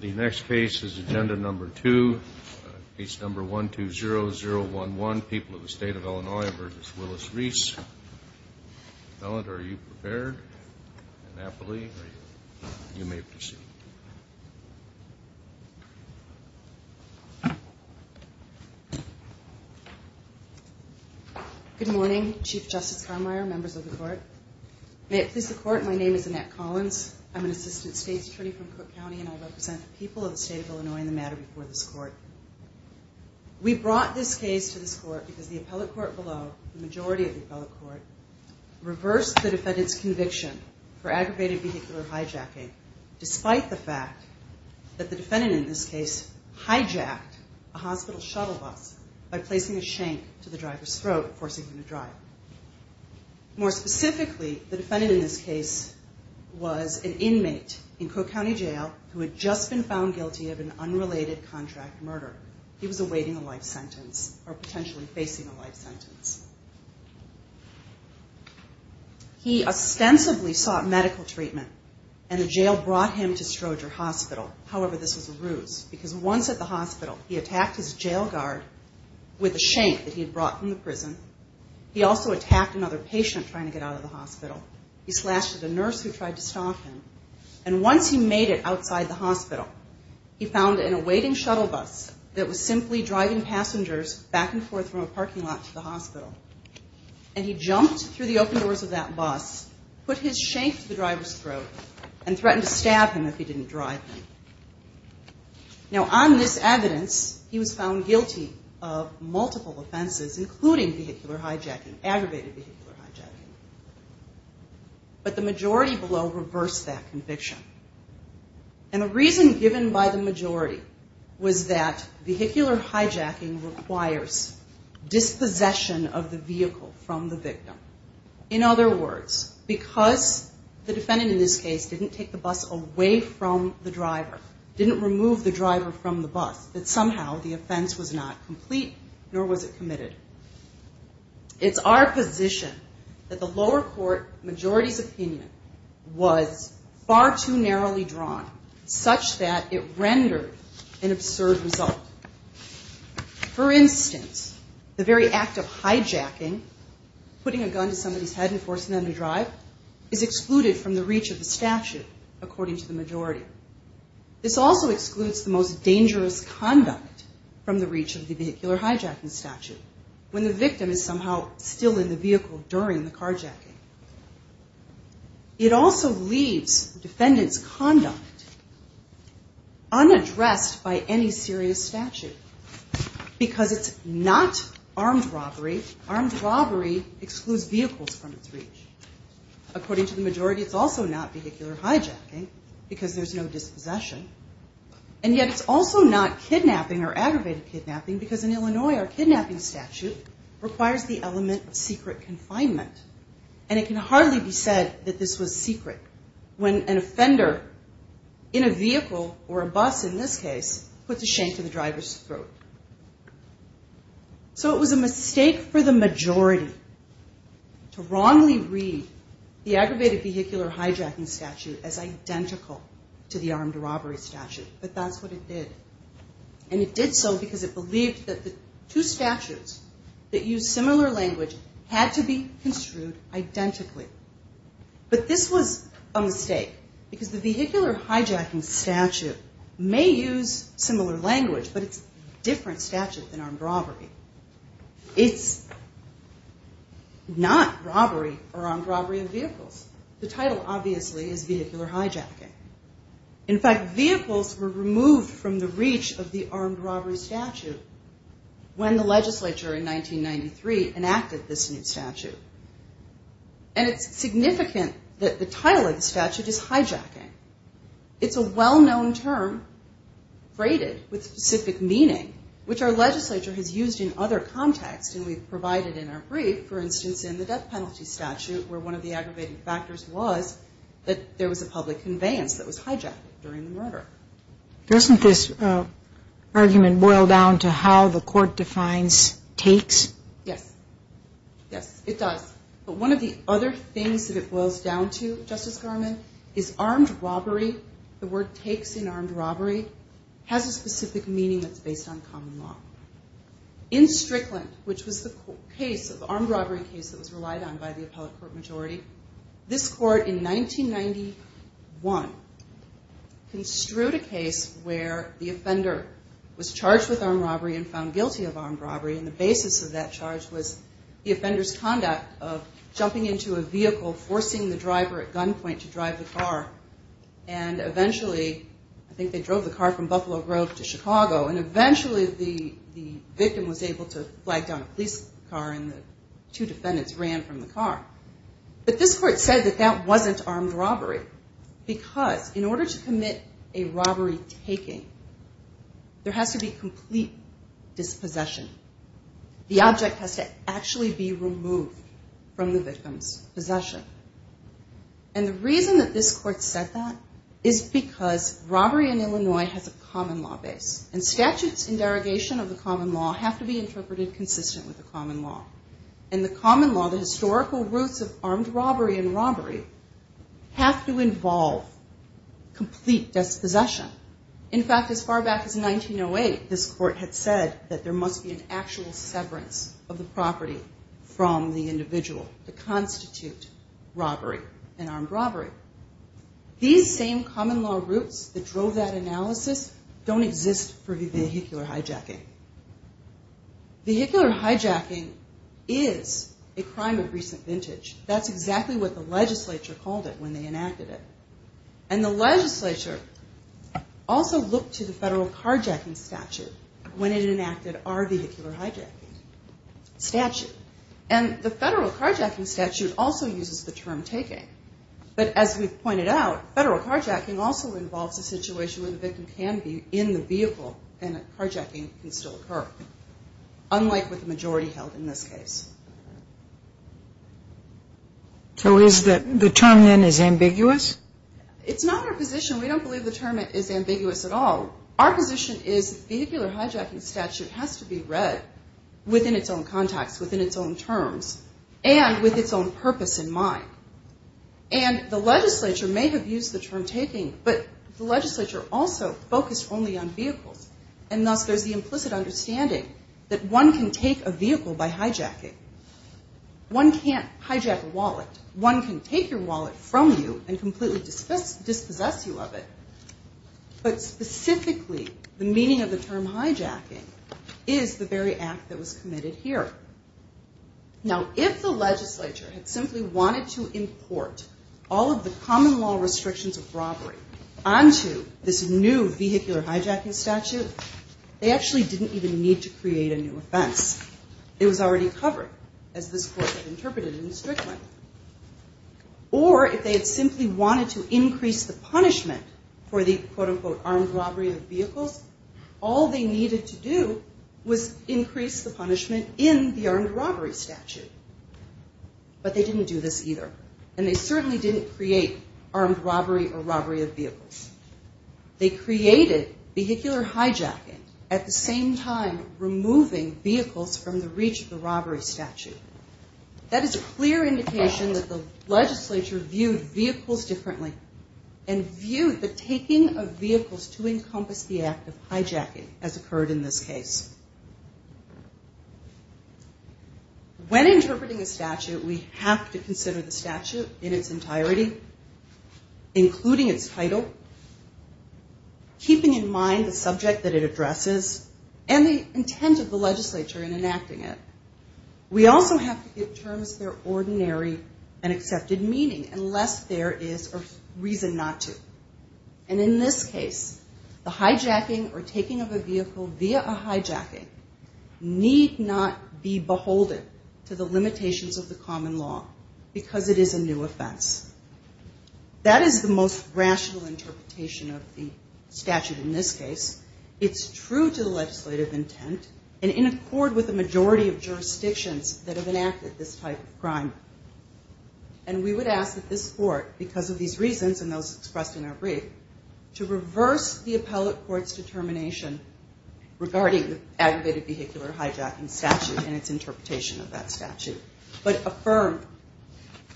The next case is agenda number 2, case number 120011, People of the State of Illinois v. Willis Reese. Ellen, are you prepared? Annapolis, are you? You may proceed. Good morning, Chief Justice Carmeier, members of the Court. May it please the Court, my name is Annette Collins. I'm an Assistant State's Attorney from Cook County and I represent the people of the State of Illinois in the matter before this Court. We brought this case to this Court because the appellate court below, the majority of the appellate court, reversed the defendant's conviction for aggravated vehicular hijacking, despite the fact that the defendant in this case hijacked a hospital shuttle bus by placing a shank to the driver's throat, forcing him to drive. More specifically, the defendant in this case was an inmate in Cook County Jail who had just been found guilty of an unrelated contract murder. He was awaiting a life sentence or potentially facing a life sentence. He ostensibly sought medical treatment and the jail brought him to Stroger Hospital. However, this was a ruse because once at the hospital, he attacked his jail guard with a shank that he had brought from the prison. He also attacked another patient trying to get out of the hospital. He slashed at a nurse who tried to stop him. And once he made it outside the hospital, he found an awaiting shuttle bus that was simply driving passengers back and forth from a parking lot to the hospital. And he jumped through the open doors of that bus, put his shank to the driver's throat, and threatened to stab him if he didn't drive. Now on this evidence, he was found guilty of multiple offenses, including vehicular hijacking, aggravated vehicular hijacking. But the majority below reversed that conviction. And the reason given by the majority was that vehicular hijacking requires dispossession of the vehicle from the victim. In other words, because the defendant in this case didn't take the bus away from the driver, didn't remove the driver from the bus, that somehow the offense was not complete nor was it committed. It's our position that the lower court majority's opinion was far too narrowly drawn such that it rendered an absurd result. For instance, the very act of hijacking, putting a gun to somebody's head and forcing them to drive, is excluded from the reach of the statute according to the majority. This also excludes the most dangerous conduct from the reach of the vehicular hijacking statute when the victim is somehow still in the vehicle during the carjacking. It also leaves defendant's conduct unaddressed by any serious statute because it's not armed robbery. Armed robbery excludes vehicles from its reach. According to the majority, it's also not vehicular hijacking because there's no dispossession. And yet it's also not kidnapping or aggravated kidnapping because in Illinois our kidnapping statute requires the element of secret confinement. And it can hardly be said that this was secret when an offender in a vehicle or a bus in this case puts a shank to the driver's throat. So it was a mistake for the majority to wrongly read the aggravated vehicular hijacking statute as identical to the armed robbery statute, but that's what it did. And it did so because it believed that the two statutes that use similar language had to be construed identically. But this was a mistake because the vehicular hijacking statute may use similar language, but it's a different statute than armed robbery. It's not robbery or armed robbery of vehicles. The title obviously is vehicular hijacking. In fact, vehicles were removed from the reach of the armed robbery statute when the legislature in 1993 enacted this new statute. And it's significant that the title of the statute is hijacking. It's a well-known term braided with specific meaning, which our legislature has used in other contexts. And we've provided in our brief, for instance, in the death penalty statute where one of the aggravated factors was that there was a public conveyance that was hijacked during the murder. Doesn't this argument boil down to how the court defines takes? Yes. Yes, it does. But one of the other things that it boils down to, Justice Garmon, is armed robbery. The word takes in armed robbery has a specific meaning that's based on common law. In Strickland, which was the case, the armed robbery case that was relied on by the appellate court majority, this court in 1991 construed a case where the offender was charged with armed robbery and found guilty of armed robbery. And the basis of that charge was the offender's conduct of jumping into a vehicle, forcing the driver at gunpoint to drive the car. And eventually, I think they drove the car from Buffalo Road to Chicago. And eventually the victim was able to flag down a police car and the two defendants ran from the car. But this court said that that wasn't armed robbery because in order to commit a robbery taking, there has to be complete dispossession. The object has to actually be removed from the victim's possession. And the reason that this court said that is because robbery in Illinois has a common law base. And statutes in derogation of the common law have to be interpreted consistent with the common law. And the common law, the historical roots of armed robbery and robbery, have to involve complete dispossession. In fact, as far back as 1908, this court had said that there must be an actual severance of the property from the individual to constitute robbery, an armed robbery. These same common law roots that drove that analysis don't exist for vehicular hijacking. Vehicular hijacking is a crime of recent vintage. That's exactly what the legislature called it when they enacted it. And the legislature also looked to the federal carjacking statute when it enacted our vehicular hijacking statute. And the federal carjacking statute also uses the term taking. But as we've pointed out, federal carjacking also involves a situation where the victim can be in the vehicle and a carjacking can still occur, unlike with the majority held in this case. So is the term then is ambiguous? It's not our position. We don't believe the term is ambiguous at all. Our position is vehicular hijacking statute has to be read within its own context, within its own terms, and with its own purpose in mind. And the legislature may have used the term taking, but the legislature also focused only on vehicles. And thus, there's the implicit understanding that one can take a vehicle by hijacking. One can't hijack a wallet. One can take your wallet from you and completely dispossess you of it. But specifically, the meaning of the term hijacking is the very act that was committed here. Now, if the legislature had simply wanted to import all of the common law restrictions of robbery onto this new vehicular hijacking statute, they actually didn't even need to create a new offense. It was already covered, as this court had interpreted in the Strickland. Or if they had simply wanted to increase the punishment for the, quote-unquote, in the armed robbery statute. But they didn't do this either. And they certainly didn't create armed robbery or robbery of vehicles. They created vehicular hijacking at the same time removing vehicles from the reach of the robbery statute. That is a clear indication that the legislature viewed vehicles differently and viewed the taking of vehicles to encompass the act of hijacking as occurred in this case. When interpreting a statute, we have to consider the statute in its entirety, including its title, keeping in mind the subject that it addresses, and the intent of the legislature in enacting it. We also have to give terms their ordinary and accepted meaning unless there is a reason not to. And in this case, the hijacking or taking of a vehicle via a hijacking need not be beholden to the limitations of the common law because it is a new offense. That is the most rational interpretation of the statute in this case. It's true to the legislative intent and in accord with the majority of jurisdictions that have enacted this type of crime. And we would ask that this court, because of these reasons and those expressed in our brief, to reverse the appellate court's determination regarding the aggravated vehicular hijacking statute and its interpretation of that statute, but affirm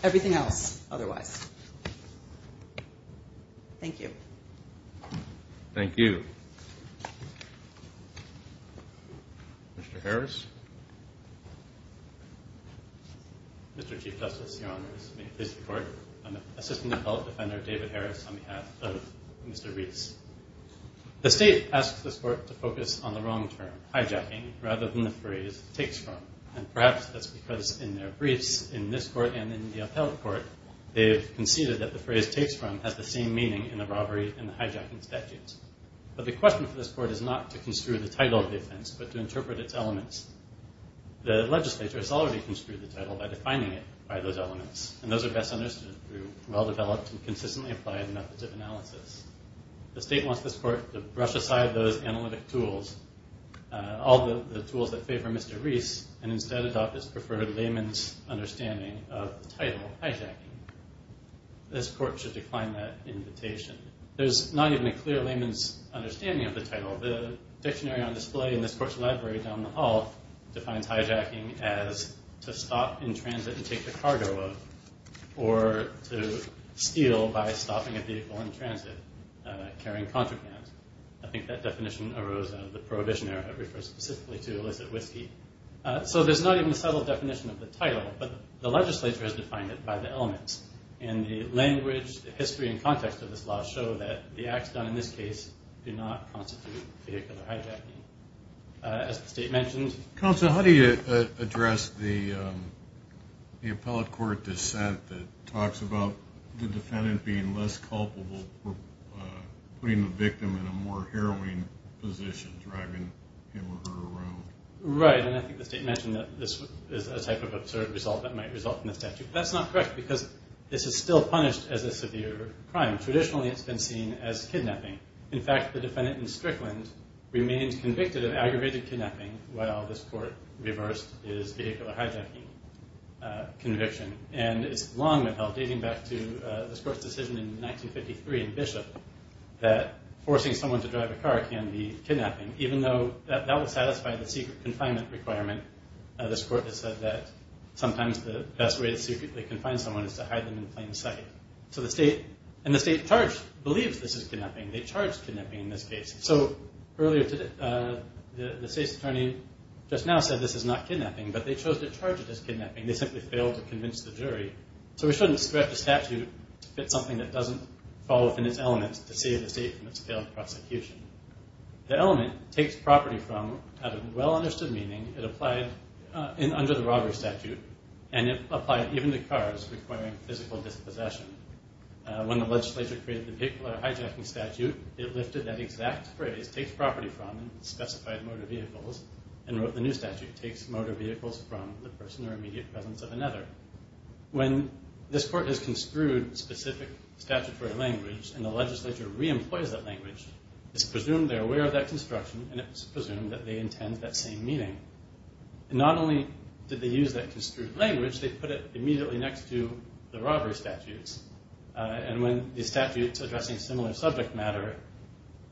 everything else otherwise. Thank you. Thank you. Mr. Harris? Mr. Chief Justice, Your Honors, may it please the Court, I'm Assistant Appellate Defender David Harris on behalf of Mr. Reese. The State asks this Court to focus on the wrong term, hijacking, rather than the phrase takes from. And perhaps that's because in their briefs in this Court and in the appellate court, they've conceded that the phrase takes from has the same meaning in the robbery and the hijacking statutes. But the question for this Court is not to construe the title of the offense, but to interpret its elements. The legislature has already construed the title by defining it by those elements, and those are best understood through well-developed and consistently applied methods of analysis. The State wants this Court to brush aside those analytic tools, all the tools that favor Mr. Reese, and instead adopt its preferred layman's understanding of the title, hijacking. This Court should decline that invitation. There's not even a clear layman's understanding of the title. The dictionary on display in this Court's library down the hall defines hijacking as to stop in transit and take the cargo of, or to steal by stopping a vehicle in transit, carrying contraband. I think that definition arose out of the Prohibition Era. It refers specifically to illicit whiskey. So there's not even a subtle definition of the title, but the legislature has defined it by the elements. And the language, the history, and context of this law show that the acts done in this case do not constitute vehicular hijacking. As the State mentioned. Counsel, how do you address the appellate court dissent that talks about the defendant being less culpable for putting the victim in a more harrowing position, driving him or her around? Right, and I think the State mentioned that this is a type of absurd result that might result in a statute. That's not correct because this is still punished as a severe crime. In fact, the defendant in Strickland remains convicted of aggravated kidnapping, while this Court reversed his vehicular hijacking conviction. And it's long been held, dating back to this Court's decision in 1953 in Bishop, that forcing someone to drive a car can be kidnapping, even though that would satisfy the secret confinement requirement. This Court has said that sometimes the best way to secretly confine someone is to hide them in plain sight. So the State, and the State charged, believes this is kidnapping. They charged kidnapping in this case. So earlier today, the State's attorney just now said this is not kidnapping, but they chose to charge it as kidnapping. They simply failed to convince the jury. So we shouldn't stretch a statute to fit something that doesn't fall within its elements to save the State from its failed prosecution. The element takes property from, out of well-understood meaning, it applied under the robbery statute, and it applied even to cars requiring physical dispossession. When the legislature created the vehicular hijacking statute, it lifted that exact phrase, takes property from, specified motor vehicles, and wrote the new statute, takes motor vehicles from the person or immediate presence of another. When this Court has construed specific statutory language, and the legislature re-employs that language, it's presumed they're aware of that construction, and it's presumed that they intend that same meaning. Not only did they use that construed language, they put it immediately next to the robbery statutes. And when the statutes addressing similar subject matter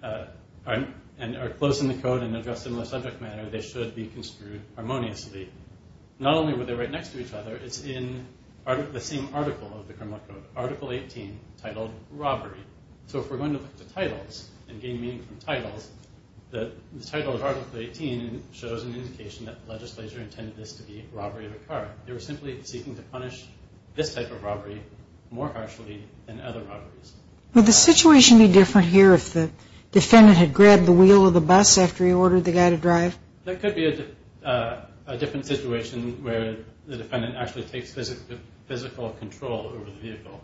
are close in the code and address similar subject matter, they should be construed harmoniously. Not only were they right next to each other, it's in the same article of the criminal code, Article 18, titled Robbery. So if we're going to look to titles and gain meaning from titles, the title of Article 18 shows an indication that the legislature intended this to be robbery of a car. They were simply seeking to punish this type of robbery more harshly than other robberies. Would the situation be different here if the defendant had grabbed the wheel of the bus after he ordered the guy to drive? That could be a different situation where the defendant actually takes physical control over the vehicle.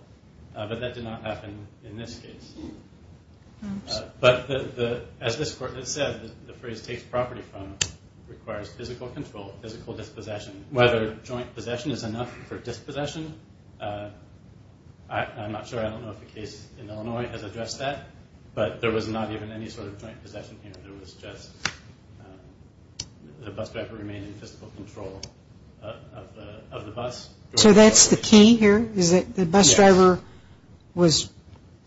But that did not happen in this case. But as this court has said, the phrase takes property from requires physical control, physical dispossession. Whether joint possession is enough for dispossession, I'm not sure. I don't know if the case in Illinois has addressed that. But there was not even any sort of joint possession here. There was just the bus driver remaining in physical control of the bus. So that's the key here, is that the bus driver was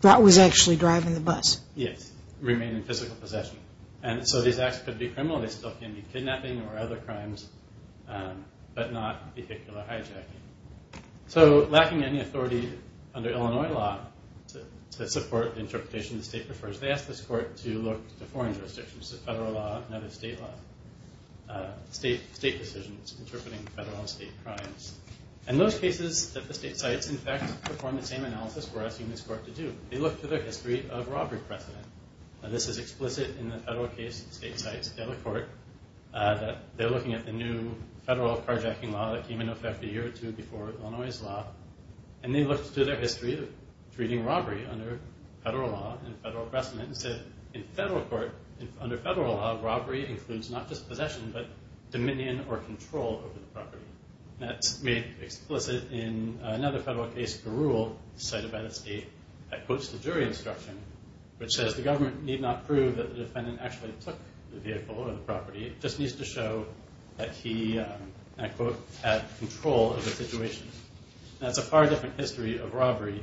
actually driving the bus? Yes, remaining in physical possession. And so these acts could be criminal. They still can be kidnapping or other crimes, but not vehicular hijacking. So lacking any authority under Illinois law to support the interpretation the state prefers, they asked this court to look to foreign jurisdictions, the federal law, not the state law, state decisions interpreting federal and state crimes. And those cases that the state sites in fact performed the same analysis were asking this court to do. They looked to their history of robbery precedent. And this is explicit in the federal case, state sites, the other court, that they're looking at the new federal carjacking law that came into effect a year or two before Illinois' law. And they looked to their history of treating robbery under federal law and federal precedent and said in federal court, under federal law, robbery includes not just possession, but dominion or control over the property. And that's made explicit in another federal case, Barule, a site about a state that quotes the jury instruction, which says the government need not prove that the defendant actually took the vehicle or the property. It just needs to show that he, and I quote, had control of the situation. And that's a far different history of robbery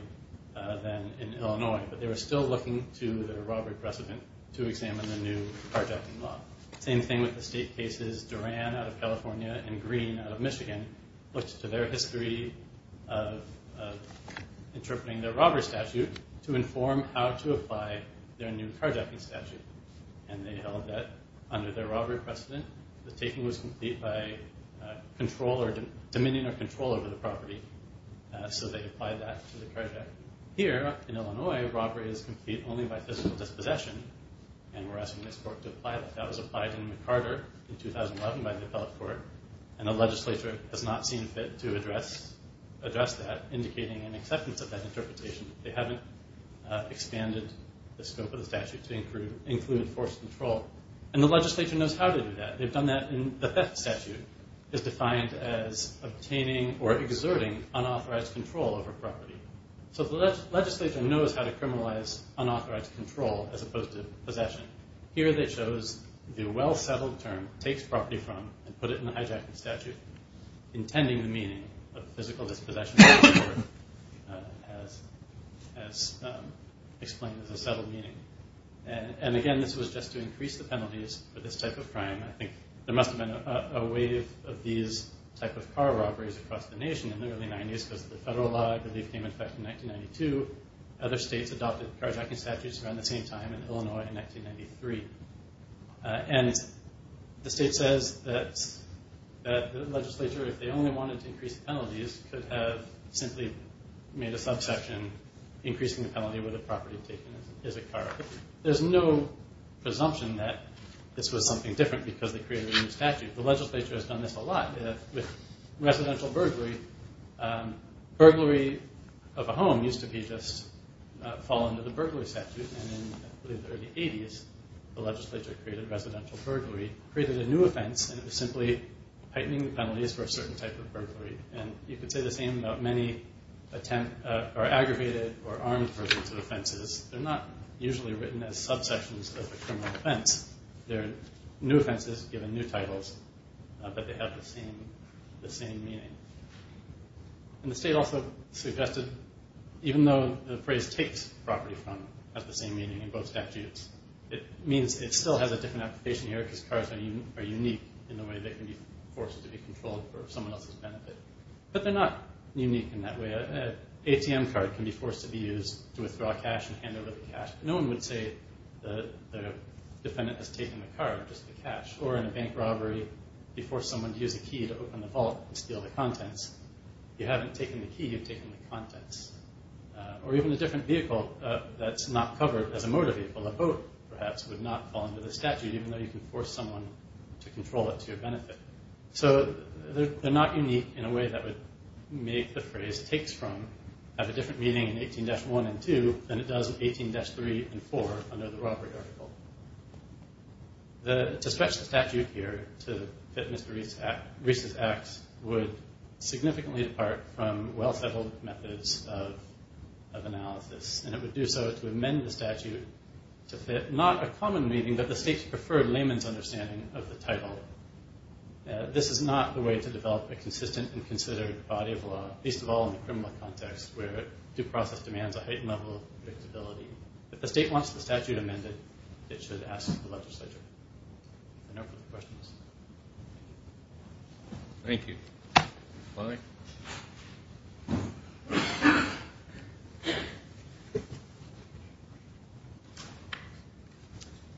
than in Illinois. But they were still looking to their robbery precedent to examine the new carjacking law. Same thing with the state cases. Duran out of California and Green out of Michigan looked to their history of interpreting their robbery statute to inform how to apply their new carjacking statute. And they held that under their robbery precedent. The taking was complete by dominion or control over the property. So they applied that to the carjacking. Here in Illinois, robbery is complete only by physical dispossession. And we're asking this court to apply that. That was applied in McCarter in 2011 by the appellate court. And the legislature has not seen fit to address that, indicating an acceptance of that interpretation. They haven't expanded the scope of the statute to include forced control. And the legislature knows how to do that. They've done that in the theft statute. It's defined as obtaining or exerting unauthorized control over property. So the legislature knows how to criminalize unauthorized control as opposed to possession. Here they chose the well-settled term, takes property from, and put it in the hijacking statute, intending the meaning of physical dispossession as explained as a settled meaning. And again, this was just to increase the penalties for this type of crime. I think there must have been a wave of these type of car robberies across the nation in the early 90s because the federal law, I believe, came into effect in 1992. Other states adopted carjacking statutes around the same time in Illinois in 1993. And the state says that the legislature, if they only wanted to increase penalties, could have simply made a subsection increasing the penalty where the property taken is a car. There's no presumption that this was something different because they created a new statute. The legislature has done this a lot with residential burglary. Burglary of a home used to be just fall under the burglary statute. And in, I believe, the early 80s, the legislature created residential burglary, created a new offense, and it was simply tightening the penalties for a certain type of burglary. And you could say the same about many aggravated or armed versions of offenses. They're not usually written as subsections of a criminal offense. They're new offenses given new titles, but they have the same meaning. And the state also suggested, even though the phrase takes property from it has the same meaning in both statutes, it means it still has a different application here because cars are unique in the way they can be forced to be controlled for someone else's benefit. But they're not unique in that way. An ATM card can be forced to be used to withdraw cash and hand over the cash. No one would say the defendant has taken the card, just the cash. Or in a bank robbery, you force someone to use a key to open the vault and steal the contents. If you haven't taken the key, you've taken the contents. Or even a different vehicle that's not covered as a motor vehicle, a boat, perhaps, would not fall under the statute even though you can force someone to control it to your benefit. So they're not unique in a way that would make the phrase takes from have a different meaning in 18-1 and 2 than it does in 18-3 and 4 under the robbery article. To stretch the statute here to fit Mr. Reese's acts would significantly depart from well-settled methods of analysis. And it would do so to amend the statute to fit not a common meaning, but the state's preferred layman's understanding of the title. This is not the way to develop a consistent and considered body of law, least of all in the criminal context where due process demands a heightened level of predictability. If the state wants the statute amended, it should ask the legislature. I know we have questions. Thank you.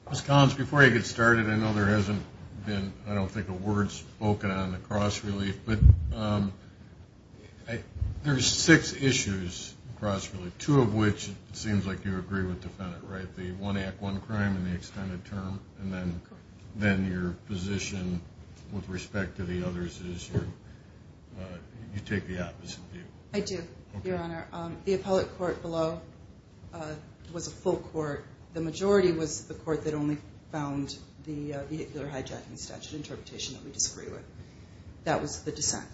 Ms. Collins, before I get started, I know there hasn't been, I don't think, a word spoken on the cross-relief, but there's six issues in cross-relief, two of which it seems like you agree with the defendant, right? The one act, one crime in the extended term, and then your position with respect to the others is you take the opposite view. I do, Your Honor. The appellate court below was a full court. The majority was the court that only found the vehicular hijacking statute interpretation that we disagree with. That was the dissent.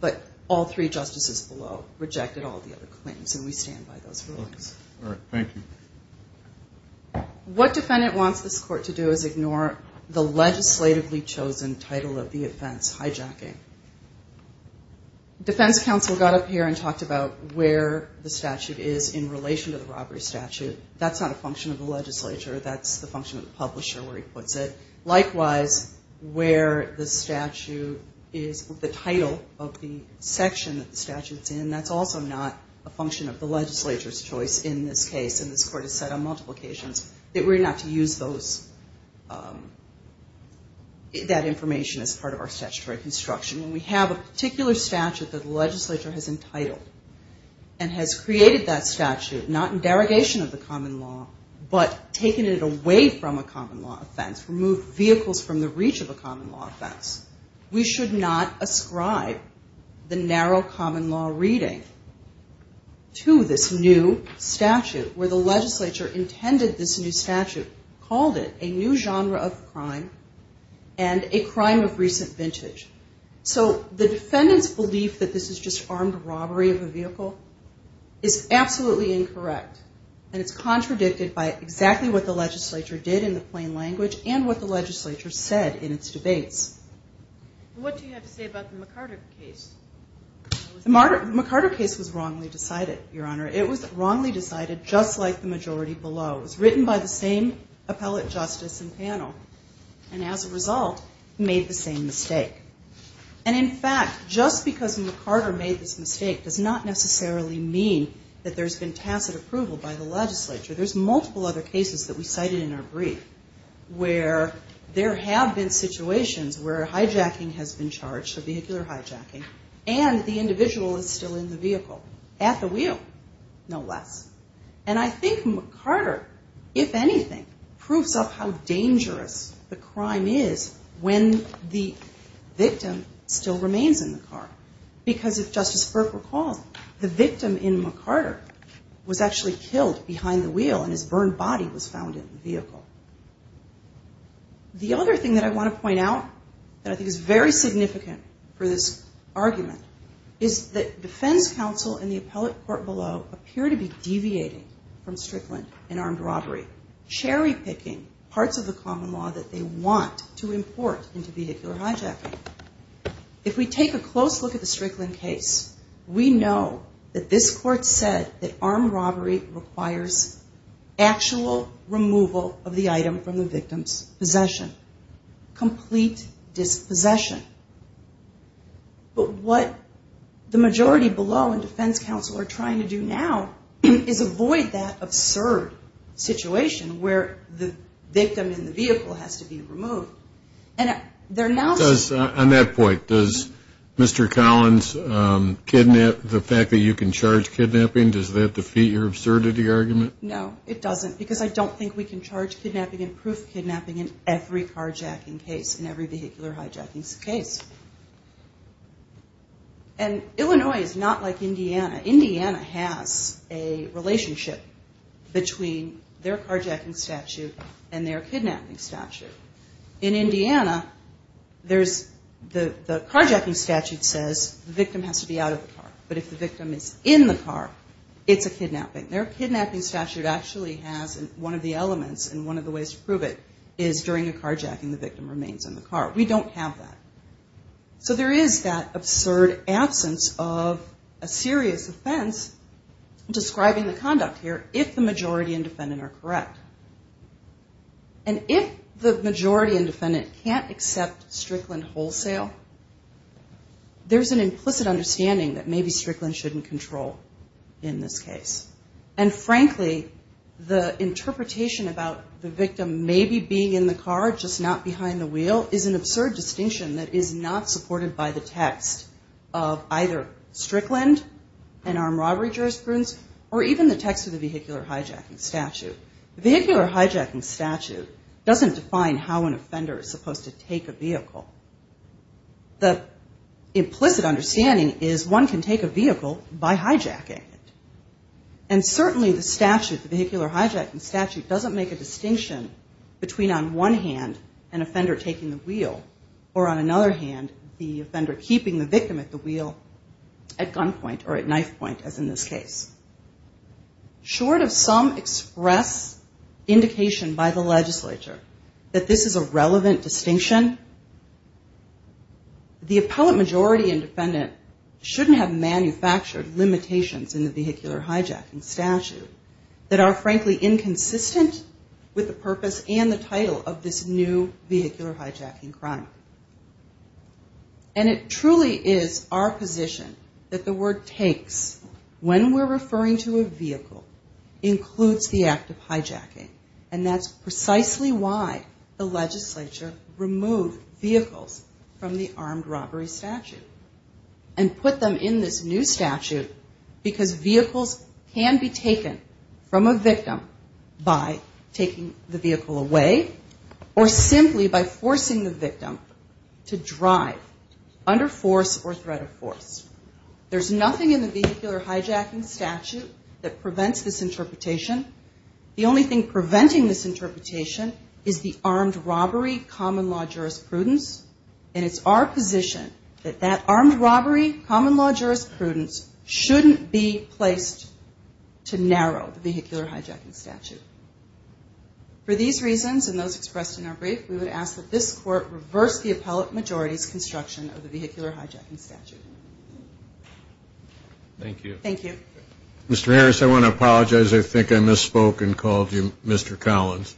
But all three justices below rejected all the other claims, and we stand by those rulings. All right. Thank you. What defendant wants this court to do is ignore the legislatively chosen title of the offense, hijacking. Defense counsel got up here and talked about where the statute is in relation to the robbery statute. That's not a function of the legislature. That's the function of the publisher where he puts it. Likewise, where the statute is, the title of the section that the statute's in, that's also not a function of the legislature's choice in this case. And this court has said on multiple occasions that we're going to have to use that information as part of our statutory construction. When we have a particular statute that the legislature has entitled and has created that statute, not in derogation of the common law but taking it away from a common law offense, removed vehicles from the reach of a common law offense, we should not ascribe the narrow common law reading to this new statute, where the legislature intended this new statute, called it a new genre of crime and a crime of recent vintage. So the defendant's belief that this is just armed robbery of a vehicle is absolutely incorrect, and it's contradicted by exactly what the legislature did in the plain language and what the legislature said in its debates. What do you have to say about the McCarter case? The McCarter case was wrongly decided, Your Honor. It was wrongly decided just like the majority below. It was written by the same appellate justice and panel, and as a result, made the same mistake. And in fact, just because McCarter made this mistake does not necessarily mean that there's been tacit approval by the legislature. There's multiple other cases that we cited in our brief where there have been situations where hijacking has been charged, so vehicular hijacking, and the individual is still in the vehicle at the wheel, no less. And I think McCarter, if anything, proves up how dangerous the crime is when the victim still remains in the car, because if Justice Burke recalls, the victim in McCarter was actually killed behind the wheel, and his burned body was found in the vehicle. The other thing that I want to point out that I think is very significant for this argument is that defense counsel and the appellate court below appear to be deviating from Strickland and armed robbery, cherry-picking parts of the common law that they want to import into vehicular hijacking. If we take a close look at the Strickland case, we know that this court said that armed robbery requires actual removal of the item from the victim's possession, complete dispossession. But what the majority below in defense counsel are trying to do now is avoid that absurd situation where the victim in the vehicle has to be removed. On that point, does Mr. Collins kidnap, the fact that you can charge kidnapping, does that defeat your absurdity argument? No, it doesn't, because I don't think we can charge kidnapping and proof kidnapping in every carjacking case and every vehicular hijacking case. And Illinois is not like Indiana. Indiana has a relationship between their carjacking statute and their kidnapping statute. In Indiana, the carjacking statute says the victim has to be out of the car, but if the victim is in the car, it's a kidnapping. Their kidnapping statute actually has one of the elements, and one of the ways to prove it is during a carjacking the victim remains in the car. We don't have that. So there is that absurd absence of a serious offense describing the conduct here if the majority and defendant are correct. And if the majority and defendant can't accept Strickland wholesale, there's an implicit understanding that maybe Strickland shouldn't control in this case. And frankly, the interpretation about the victim maybe being in the car, just not behind the wheel, is an absurd distinction that is not supported by the text of either Strickland and armed robbery jurisprudence or even the text of the vehicular hijacking statute. The vehicular hijacking statute doesn't define how an offender is supposed to take a vehicle. The implicit understanding is one can take a vehicle by hijacking it. And certainly the statute, the vehicular hijacking statute, doesn't make a distinction between on one hand an offender taking the wheel or on another hand the offender keeping the victim at the wheel at gunpoint or at knife point as in this case. Short of some express indication by the legislature that this is a relevant distinction, the appellate majority and defendant shouldn't have manufactured limitations in the vehicular hijacking statute that are frankly inconsistent with the purpose and the title of this new vehicular hijacking crime. And it truly is our position that the word takes when we're referring to a vehicle includes the act of hijacking. And that's precisely why the legislature removed vehicles from the armed robbery statute and put them in this new statute because vehicles can be taken from a victim by taking the vehicle away or simply by forcing the victim to drive under force or threat of force. There's nothing in the vehicular hijacking statute that prevents this interpretation. The only thing preventing this interpretation is the armed robbery common law jurisprudence and it's our position that that armed robbery common law jurisprudence shouldn't be placed to narrow the vehicular hijacking statute. For these reasons and those expressed in our brief, we would ask that this court reverse the appellate majority's construction of the vehicular hijacking statute. Thank you. Thank you. Mr. Harris, I want to apologize. I think I misspoke and called you Mr. Collins.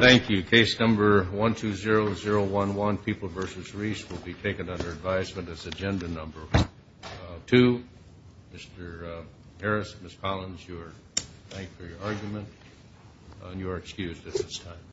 Thank you. Case number 120011, People v. Reese, will be taken under advisement as agenda number two. Mr. Harris, Ms. Collins, thank you for your argument. You are excused at this time.